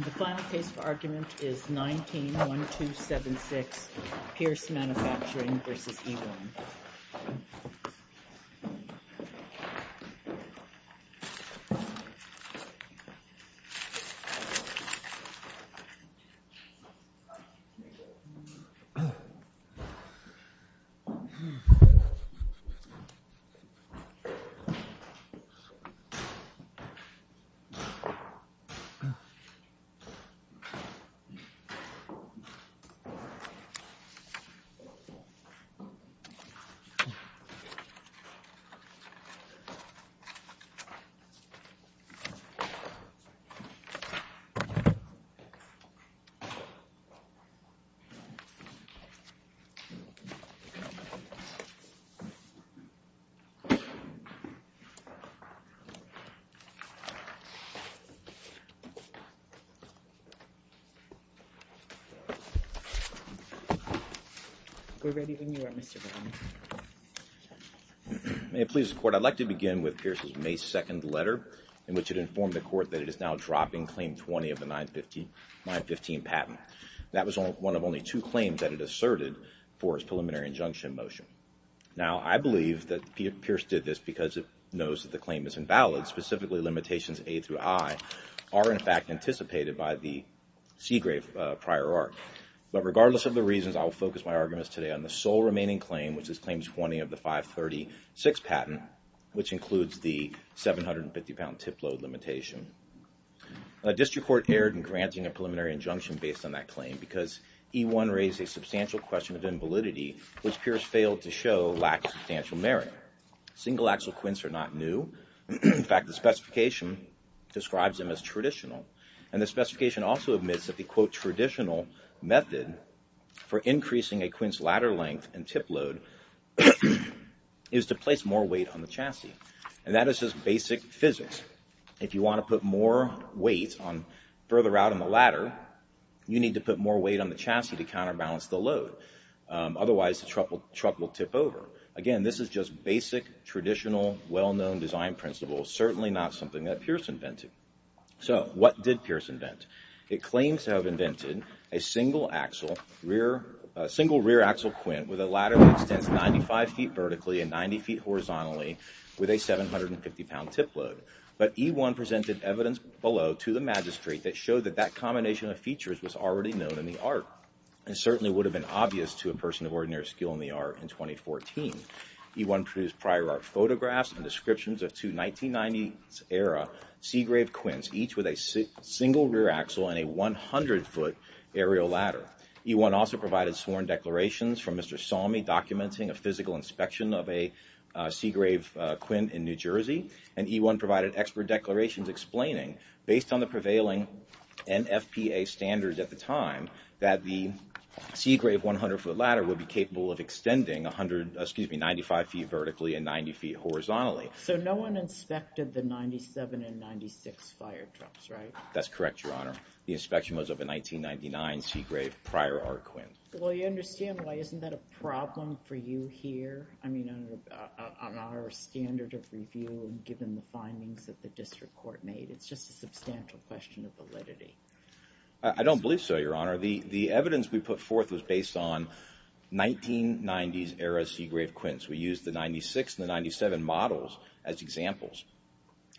The final case for argument is 19-1276, Pierce Manufacturing v. E-One. The final case for argument is 19-1276, Pierce Manufacturing v. E-One. May it please the Court, I'd like to begin with Pierce's May 2nd letter in which it informed the Court that it is now dropping Claim 20 of the 915 patent. That was one of only two claims that it asserted for its preliminary injunction motion. Now I believe that Pierce did this because it knows that the claim is invalid, specifically the limitations A through I are, in fact, anticipated by the Seagrave prior art. But regardless of the reasons, I will focus my arguments today on the sole remaining claim, which is Claim 20 of the 536 patent, which includes the 750-pound tip load limitation. District Court erred in granting a preliminary injunction based on that claim because E-One raised a substantial question of invalidity, which Pierce failed to show lack of substantial merit. Single axle quints are not new. In fact, the specification describes them as traditional. And the specification also admits that the, quote, traditional method for increasing a quints ladder length and tip load is to place more weight on the chassis. And that is just basic physics. If you want to put more weight further out on the ladder, you need to put more weight on the chassis to counterbalance the load, otherwise the truck will tip over. Again, this is just basic, traditional, well-known design principles, certainly not something that Pierce invented. So what did Pierce invent? It claims to have invented a single rear axle quint with a ladder that extends 95 feet vertically and 90 feet horizontally with a 750-pound tip load. But E-One presented evidence below to the magistrate that showed that that combination of features was already known in the art and certainly would have been obvious to a person of ordinary skill in the art in 2014. E-One produced prior art photographs and descriptions of two 1990s era Seagrave quints, each with a single rear axle and a 100-foot aerial ladder. E-One also provided sworn declarations from Mr. Salmi documenting a physical inspection of a Seagrave quint in New Jersey. And E-One provided expert declarations explaining, based on the prevailing NFPA standards at the time, that the Seagrave 100-foot ladder would be capable of extending 95 feet vertically and 90 feet horizontally. So no one inspected the 97 and 96 firetrucks, right? That's correct, Your Honor. The inspection was of a 1999 Seagrave prior art quint. Well, you understand why isn't that a problem for you here, I mean, on our standard of review and given the findings that the district court made? It's just a substantial question of validity. I don't believe so, Your Honor. The evidence we put forth was based on 1990s era Seagrave quints. We used the 96 and the 97 models as examples.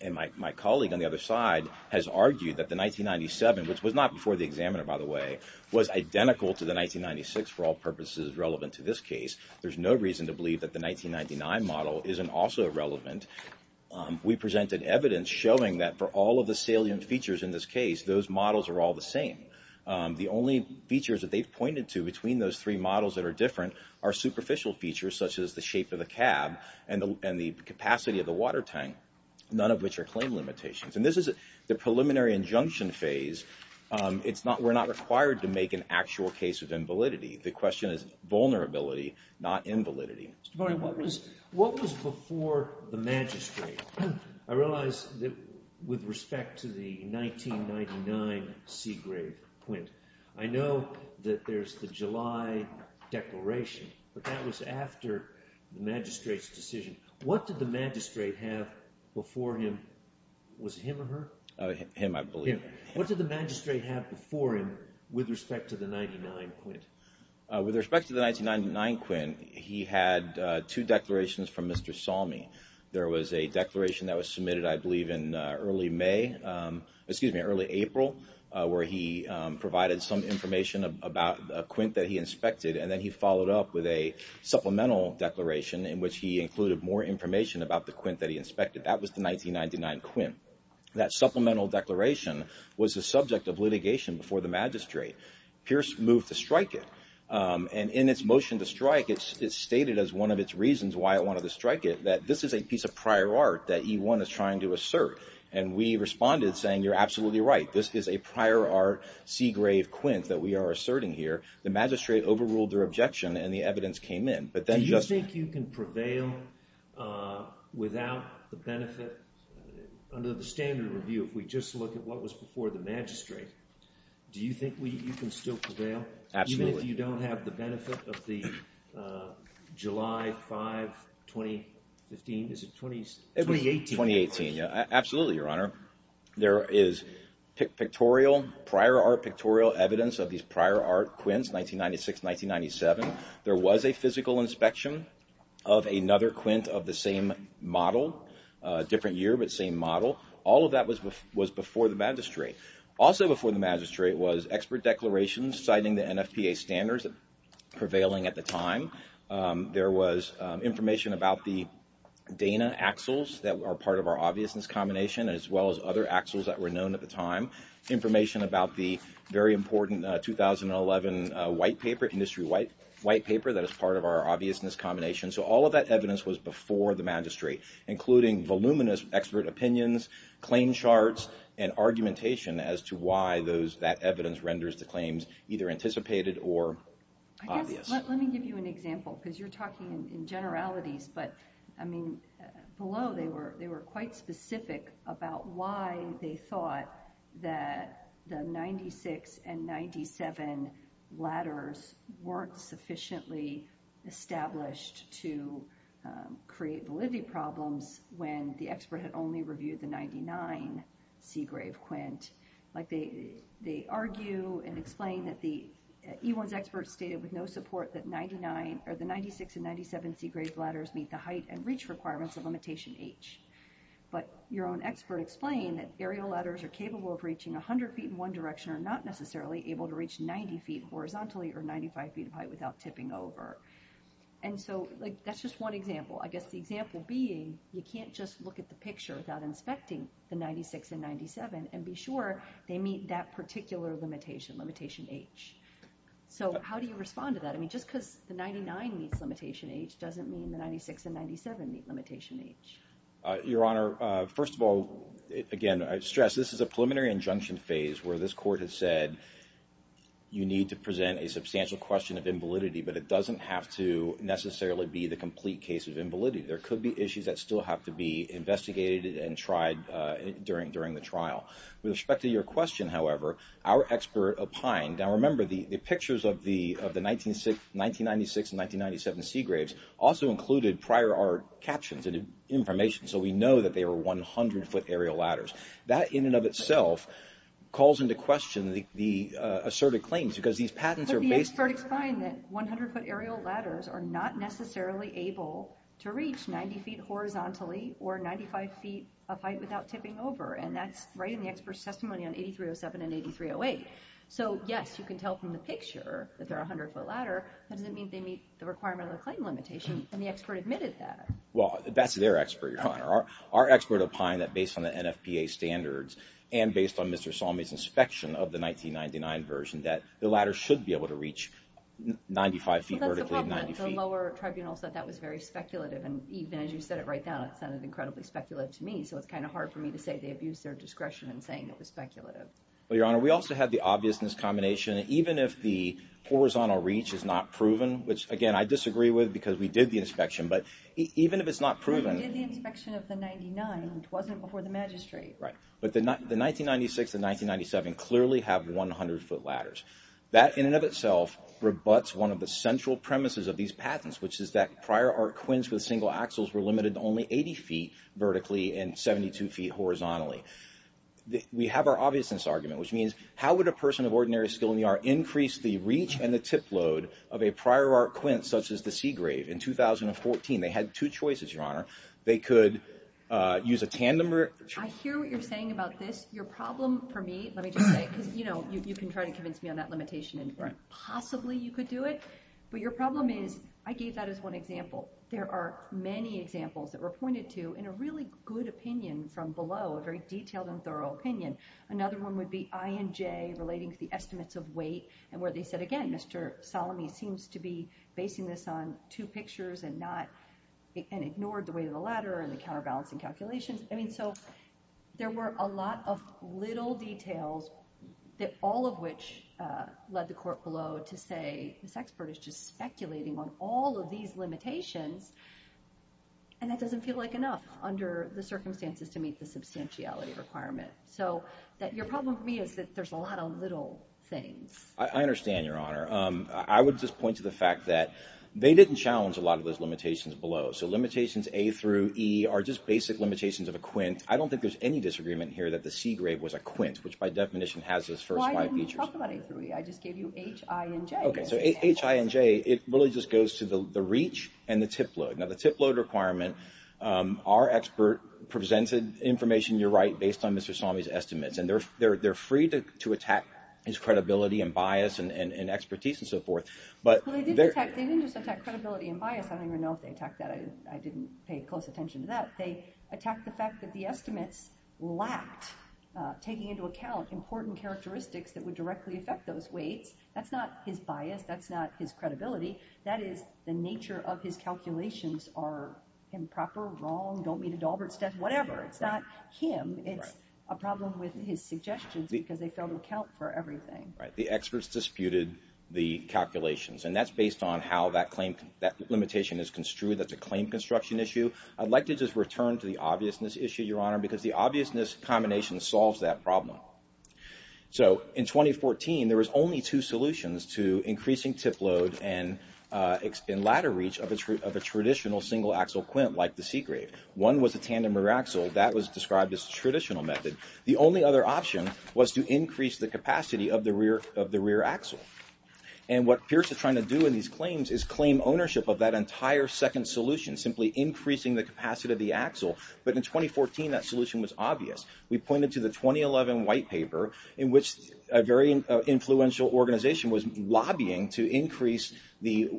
And my colleague on the other side has argued that the 1997, which was not before the examiner, by the way, was identical to the 1996 for all purposes relevant to this case. There's no reason to believe that the 1999 model isn't also relevant. We presented evidence showing that for all of the salient features in this case, those models are all the same. The only features that they've pointed to between those three models that are different are superficial features such as the shape of the cab and the capacity of the water tank, none of which are claim limitations. And this is the preliminary injunction phase. We're not required to make an actual case of invalidity. The question is vulnerability, not invalidity. Mr. Devaney, what was before the magistrate? I realize that with respect to the 1999 Seagrave quint, I know that there's the July declaration, but that was after the magistrate's decision. What did the magistrate have before him? Was it him or her? Him, I believe. What did the magistrate have before him with respect to the 99 quint? With respect to the 1999 quint, he had two declarations from Mr. Salmi. There was a declaration that was submitted, I believe, in early April, where he provided some information about a quint that he inspected, and then he followed up with a supplemental declaration in which he included more information about the quint that he inspected. That was the 1999 quint. That supplemental declaration was the subject of litigation before the magistrate. Pierce moved to strike it, and in its motion to strike, it's stated as one of its reasons why it wanted to strike it, that this is a piece of prior art that E1 is trying to assert. We responded saying, you're absolutely right. This is a prior art Seagrave quint that we are asserting here. The magistrate overruled their objection, and the evidence came in. Do you think you can prevail without the benefit, under the standard review, if we just look at what was before the magistrate? Do you think you can still prevail, even if you don't have the benefit of the July 5, 2015, is it 2018? 2018, yeah, absolutely, Your Honor. There is pictorial, prior art pictorial evidence of these prior art quints, 1996, 1997. There was a physical inspection of another quint of the same model, different year, but same model. All of that was before the magistrate. Also before the magistrate was expert declarations citing the NFPA standards prevailing at the time. There was information about the Dana axles that are part of our obviousness combination, as well as other axles that were known at the time. Information about the very important 2011 white paper, industry white paper, that is part of our obviousness combination. All of that evidence was before the magistrate, including voluminous expert opinions, claim charts, and argumentation as to why that evidence renders the claims either anticipated or obvious. I guess, let me give you an example, because you're talking in generalities, but below they were quite specific about why they thought that the 96 and 97 ladders weren't sufficiently established to create validity problems when the expert had only reviewed the 99 Seagrave quint. They argue and explain that the E1's experts stated with no support that the 96 and 97 Seagrave ladders meet the height and reach requirements of limitation H, but your own expert explained that aerial ladders are capable of reaching 100 feet in one direction or not And so, that's just one example. I guess the example being, you can't just look at the picture without inspecting the 96 and 97 and be sure they meet that particular limitation, limitation H. So how do you respond to that? I mean, just because the 99 meets limitation H doesn't mean the 96 and 97 meet limitation H. Your Honor, first of all, again, I stress this is a preliminary injunction phase where this court has said you need to present a substantial question of invalidity, but it doesn't have to necessarily be the complete case of invalidity. There could be issues that still have to be investigated and tried during the trial. With respect to your question, however, our expert opined, now remember, the pictures of the 1996 and 1997 Seagraves also included prior art captions and information so we know that they were 100-foot aerial ladders. That in and of itself calls into question the asserted claims because these patents But the expert explained that 100-foot aerial ladders are not necessarily able to reach 90 feet horizontally or 95 feet of height without tipping over and that's right in the expert's testimony on 8307 and 8308. So yes, you can tell from the picture that they're a 100-foot ladder, that doesn't mean they meet the requirement of the claim limitation and the expert admitted that. Well, that's their expert, Your Honor. Our expert opined that based on the NFPA standards and based on Mr. Salmi's inspection of the Seagraves, they were not able to reach 95 feet vertically at 90 feet. Well, that's the problem. The lower tribunal said that was very speculative and even as you said it right now, it sounded incredibly speculative to me so it's kind of hard for me to say they abused their discretion in saying it was speculative. Well, Your Honor, we also had the obviousness combination. Even if the horizontal reach is not proven, which again, I disagree with because we did the inspection, but even if it's not proven Well, we did the inspection of the 99, which wasn't before the magistrate Right. But the 1996 and 1997 clearly have 100-foot ladders. That in and of itself rebuts one of the central premises of these patents, which is that prior art quints with single axles were limited to only 80 feet vertically and 72 feet horizontally. We have our obviousness argument, which means how would a person of ordinary skill in the art increase the reach and the tip load of a prior art quint such as the Seagrave in 2014? They had two choices, Your Honor. They could use a tandem or I hear what you're saying about this. Your problem for me, let me just say, because you can try to convince me on that limitation and possibly you could do it, but your problem is, I gave that as one example, there are many examples that were pointed to in a really good opinion from below, a very detailed and thorough opinion. Another one would be INJ relating to the estimates of weight and where they said, again, Mr. Salami seems to be basing this on two pictures and ignored the weight of the ladder and the counterbalancing calculations. I mean, so there were a lot of little details that all of which led the court below to say this expert is just speculating on all of these limitations and that doesn't feel like enough under the circumstances to meet the substantiality requirement. So that your problem for me is that there's a lot of little things. I understand, Your Honor. I would just point to the fact that they didn't challenge a lot of those limitations below. So limitations A through E are just basic limitations of a quint. I don't think there's any disagreement here that the C grade was a quint, which by definition has its first five features. Why didn't you talk about A through E? I just gave you H, I, and J. Okay. So H, I, and J, it really just goes to the reach and the tip load. Now, the tip load requirement, our expert presented information, you're right, based on Mr. Salami's estimates and they're free to attack his credibility and bias and expertise and so forth. Well, they didn't just attack credibility and bias. I don't even know if they attacked that. I didn't pay close attention to that. They attacked the fact that the estimates lacked taking into account important characteristics that would directly affect those weights. That's not his bias. That's not his credibility. That is the nature of his calculations are improper, wrong, don't meet a Dalbert's test, whatever. It's not him. It's a problem with his suggestions because they fell to account for everything. The experts disputed the calculations and that's based on how that claim, that limitation is construed. That's a claim construction issue. I'd like to just return to the obviousness issue, Your Honor, because the obviousness combination solves that problem. So in 2014, there was only two solutions to increasing tip load and in latter reach of a traditional single axle quint like the C-grade. One was a tandem rear axle. That was described as a traditional method. The only other option was to increase the capacity of the rear axle. And what Pierce is trying to do in these claims is claim ownership of that entire second solution, simply increasing the capacity of the axle. But in 2014, that solution was obvious. We pointed to the 2011 white paper in which a very influential organization was lobbying to increase the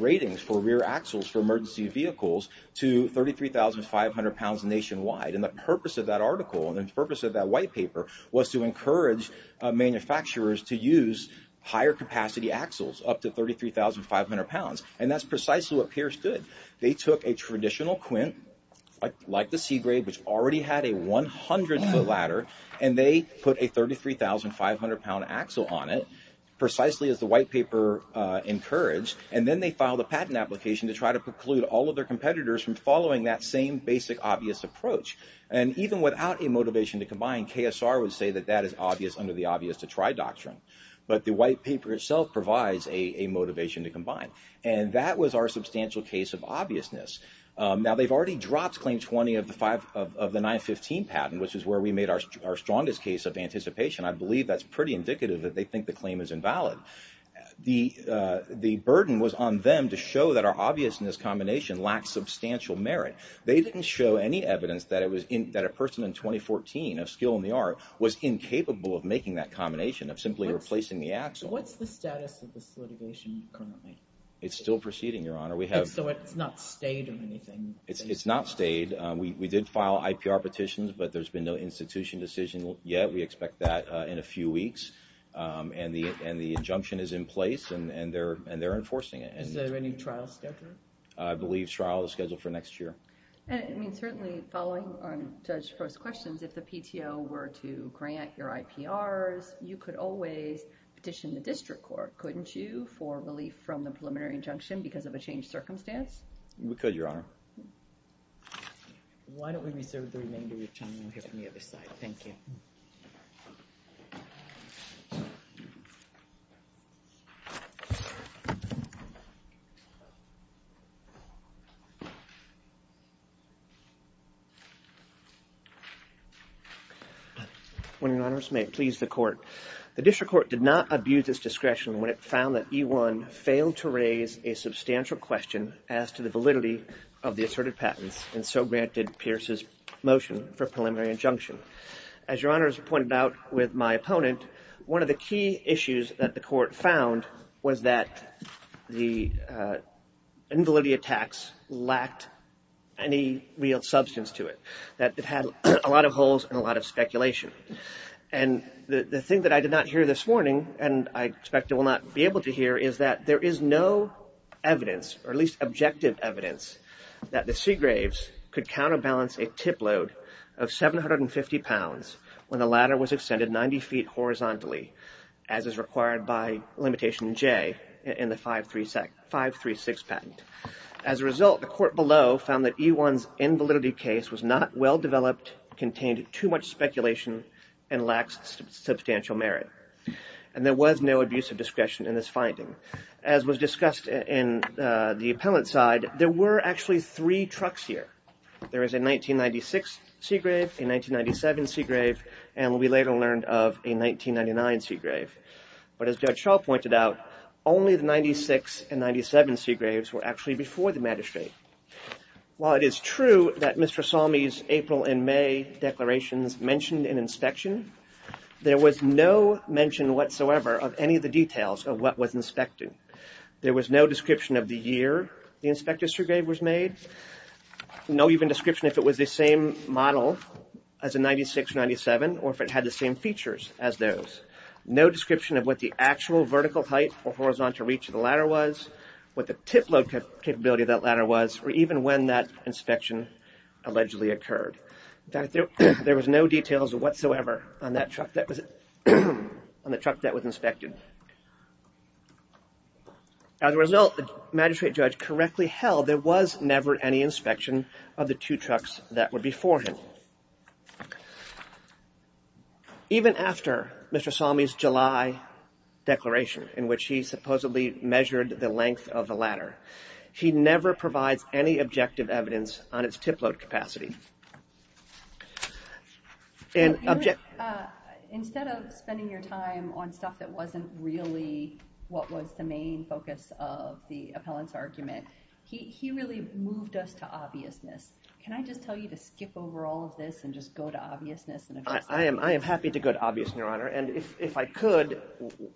ratings for rear axles for emergency vehicles to 33,500 pounds nationwide. And the purpose of that article and the purpose of that white paper was to encourage manufacturers to use higher capacity axles up to 33,500 pounds. And that's precisely what Pierce did. They took a traditional quint like the C-grade, which already had a 100-foot ladder, and they put a 33,500-pound axle on it, precisely as the white paper encouraged. And then they filed a patent application to try to preclude all of their competitors from And even without a motivation to combine, KSR would say that that is obvious under the obvious to try doctrine. But the white paper itself provides a motivation to combine. And that was our substantial case of obviousness. Now they've already dropped claim 20 of the 915 patent, which is where we made our strongest case of anticipation. I believe that's pretty indicative that they think the claim is invalid. The burden was on them to show that our obviousness combination lacked substantial merit. They didn't show any evidence that a person in 2014 of skill in the art was incapable of making that combination, of simply replacing the axle. What's the status of this litigation currently? It's still proceeding, Your Honor. So it's not stayed or anything? It's not stayed. We did file IPR petitions, but there's been no institution decision yet. We expect that in a few weeks. And the injunction is in place, and they're enforcing it. Is there any trial scheduled? I believe trial is scheduled for next year. And I mean, certainly following on Judge Frost's questions, if the PTO were to grant your IPRs, you could always petition the district court, couldn't you, for relief from the preliminary injunction because of a changed circumstance? We could, Your Honor. Why don't we reserve the remainder of your time? We'll hear from the other side. Thank you. When in honors, may it please the court. The district court did not abuse its discretion when it found that E-1 failed to raise a substantial question as to the validity of the asserted patents, and so granted Pierce's motion for As Your Honor has pointed out with my opponent, one of the key issues that the court found was that the invalidity attacks lacked any real substance to it, that it had a lot of holes and a lot of speculation. And the thing that I did not hear this morning, and I expect I will not be able to hear, is that there is no evidence, or at least objective evidence, that the Seagraves could counterbalance a tip load of 750 pounds when the ladder was extended 90 feet horizontally, as is required by limitation J in the 536 patent. As a result, the court below found that E-1's invalidity case was not well developed, contained too much speculation, and lacked substantial merit. And there was no abuse of discretion in this finding. As was discussed in the appellant side, there were actually three trucks here. There is a 1996 Seagrave, a 1997 Seagrave, and we later learned of a 1999 Seagrave. But as Judge Shaw pointed out, only the 96 and 97 Seagraves were actually before the magistrate. While it is true that Mr. Salmi's April and May declarations mentioned an inspection, there was no mention whatsoever of any of the details of what was inspected. There was no description of the year the inspected Seagrave was made, no even description if it was the same model as a 96 or 97, or if it had the same features as those. No description of what the actual vertical height or horizontal reach of the ladder was, what the tip load capability of that ladder was, or even when that inspection allegedly occurred. In fact, there was no details whatsoever on the truck that was inspected. As a result, the magistrate judge correctly held there was never any inspection of the two trucks that were before him. Even after Mr. Salmi's July declaration, in which he supposedly measured the length of the ladder, he never provides any objective evidence on its tip load capacity. Instead of spending your time on stuff that wasn't really what was the main focus of the appellant's argument, he really moved us to obviousness. Can I just tell you to skip over all of this and just go to obviousness? I am happy to go to obviousness, Your Honor, and if I could,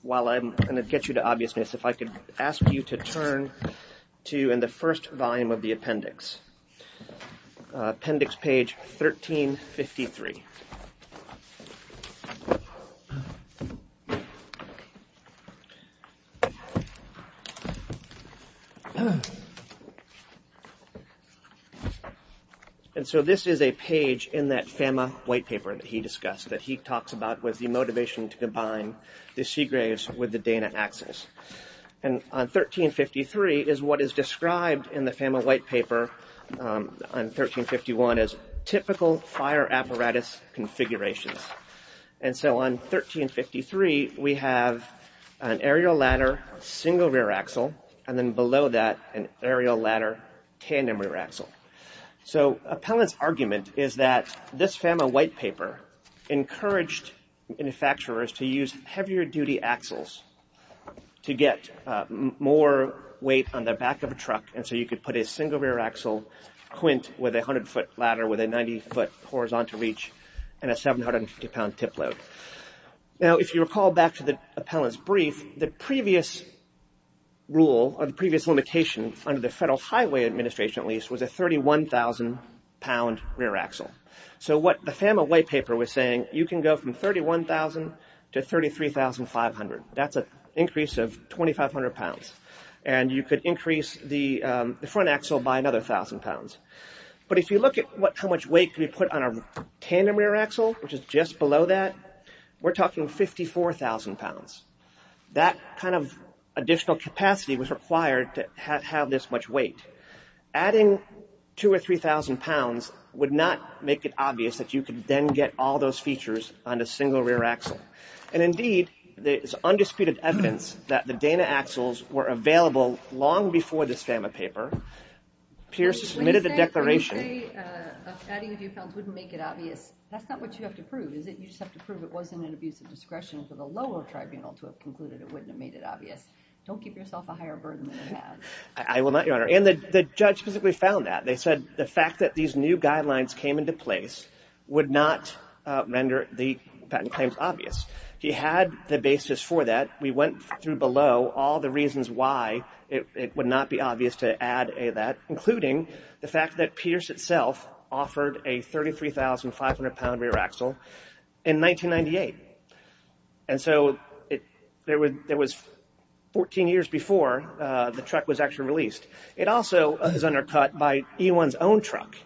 while I'm going to get you to obviousness, if I could ask you to turn to, in the first volume of the appendix, appendix page 1353. And so this is a page in that FAMA white paper that he discussed, that he talks about was the motivation to combine the Seagraves with the Dana axles. And on 1353 is what is described in the FAMA white paper on 1351 as typical fire apparatus configurations. And so on 1353, we have an aerial ladder single rear axle, and then below that, an aerial ladder tandem rear axle. So appellant's argument is that this FAMA white paper encouraged manufacturers to use heavier duty axles to get more weight on the back of a truck, and so you could put a single rear axle quint with a 100-foot ladder with a 90-foot horizontal reach and a 750-pound tip load. Now, if you recall back to the appellant's brief, the previous rule or the previous limitation under the Federal Highway Administration, at least, was a 31,000-pound rear axle. So what the FAMA white paper was saying, you can go from 31,000 to 33,500. That's an increase of 2,500 pounds. And you could increase the front axle by another 1,000 pounds. But if you look at how much weight can be put on a tandem rear axle, which is just below that, we're talking 54,000 pounds. That kind of additional capacity was required to have this much weight. Adding 2,000 or 3,000 pounds would not make it obvious that you could then get all those features on a single rear axle. And indeed, there's undisputed evidence that the Dana axles were available long before this FAMA paper. Pierce submitted the declaration. When you say adding a few pounds wouldn't make it obvious, that's not what you have to prove, is it? You just have to prove it wasn't an abuse of discretion for the lower tribunal. And the judge basically found that. They said the fact that these new guidelines came into place would not render the patent claims obvious. He had the basis for that. We went through below all the reasons why it would not be obvious to add that, including the fact that Pierce itself offered a 33,500 pound rear axle in 1998. And so, there was 14 years before the truck was actually released. It also was undercut by E1's own truck.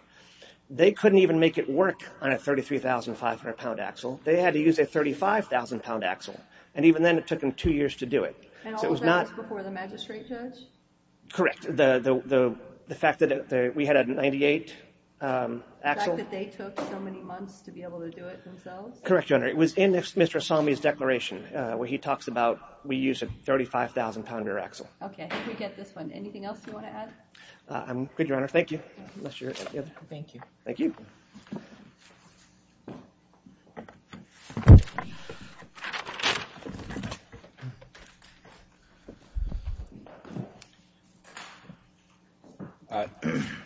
They couldn't even make it work on a 33,500 pound axle. They had to use a 35,000 pound axle. And even then, it took them two years to do it. And all of that was before the magistrate judge? Correct. The fact that we had a 98 axle. The fact that they took so many months to be able to do it themselves? Correct, Your Honor. It was in Mr. Asami's declaration where he talks about we use a 35,000 pound rear axle. Okay. I think we get this one. Anything else you want to add? I'm good, Your Honor. Thank you. Thank you. Thank you.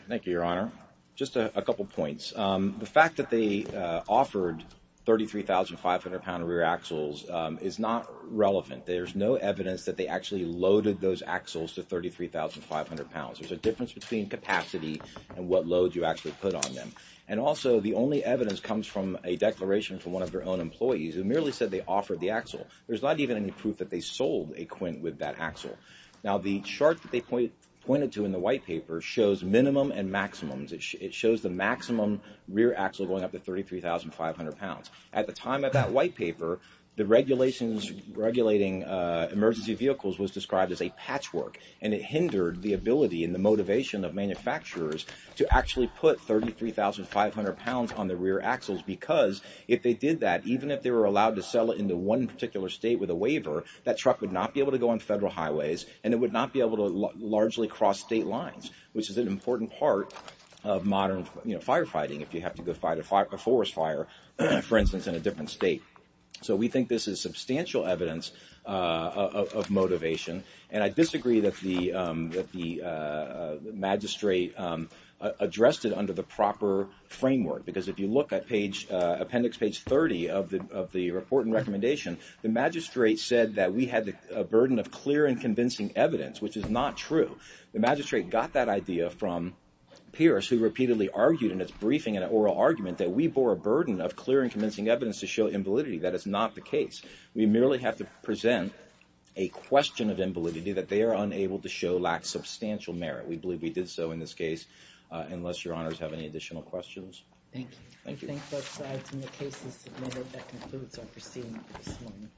Thank you, Your Honor. Just a couple points. The fact that they offered 33,500 pound rear axles is not relevant. There's no evidence that they actually loaded those axles to 33,500 pounds. There's a difference between capacity and what load you actually put on them. And also, the only evidence comes from a declaration from one of their own employees who merely said they offered the axle. There's not even any proof that they sold a Quint with that axle. Now, the chart that they pointed to in the white paper shows minimum and maximums. It shows the maximum rear axle going up to 33,500 pounds. At the time of that white paper, the regulations regulating emergency vehicles was described as a patchwork. And it hindered the ability and the motivation of manufacturers to actually put 33,500 pounds on the rear axles because if they did that, even if they were allowed to sell it into one particular state with a waiver, that truck would not be able to go on federal highways and it would not be able to largely cross state lines, which is an important part of modern firefighting if you have to go fight a forest fire, for instance, in a different state. So we think this is substantial evidence of motivation. And I disagree that the magistrate addressed it under the proper framework because if you look at appendix page 30 of the report and recommendation, the magistrate said that we had a burden of clear and convincing evidence, which is not true. The magistrate got that idea from Pierce, who repeatedly argued in his briefing in an oral argument that we bore a burden of clear and convincing evidence to show invalidity. That is not the case. We merely have to present a question of invalidity that they are unable to show lacks substantial merit. We believe we did so in this case, unless your honors have any additional questions. Thank you. Thank you. I think that concludes our proceedings this morning.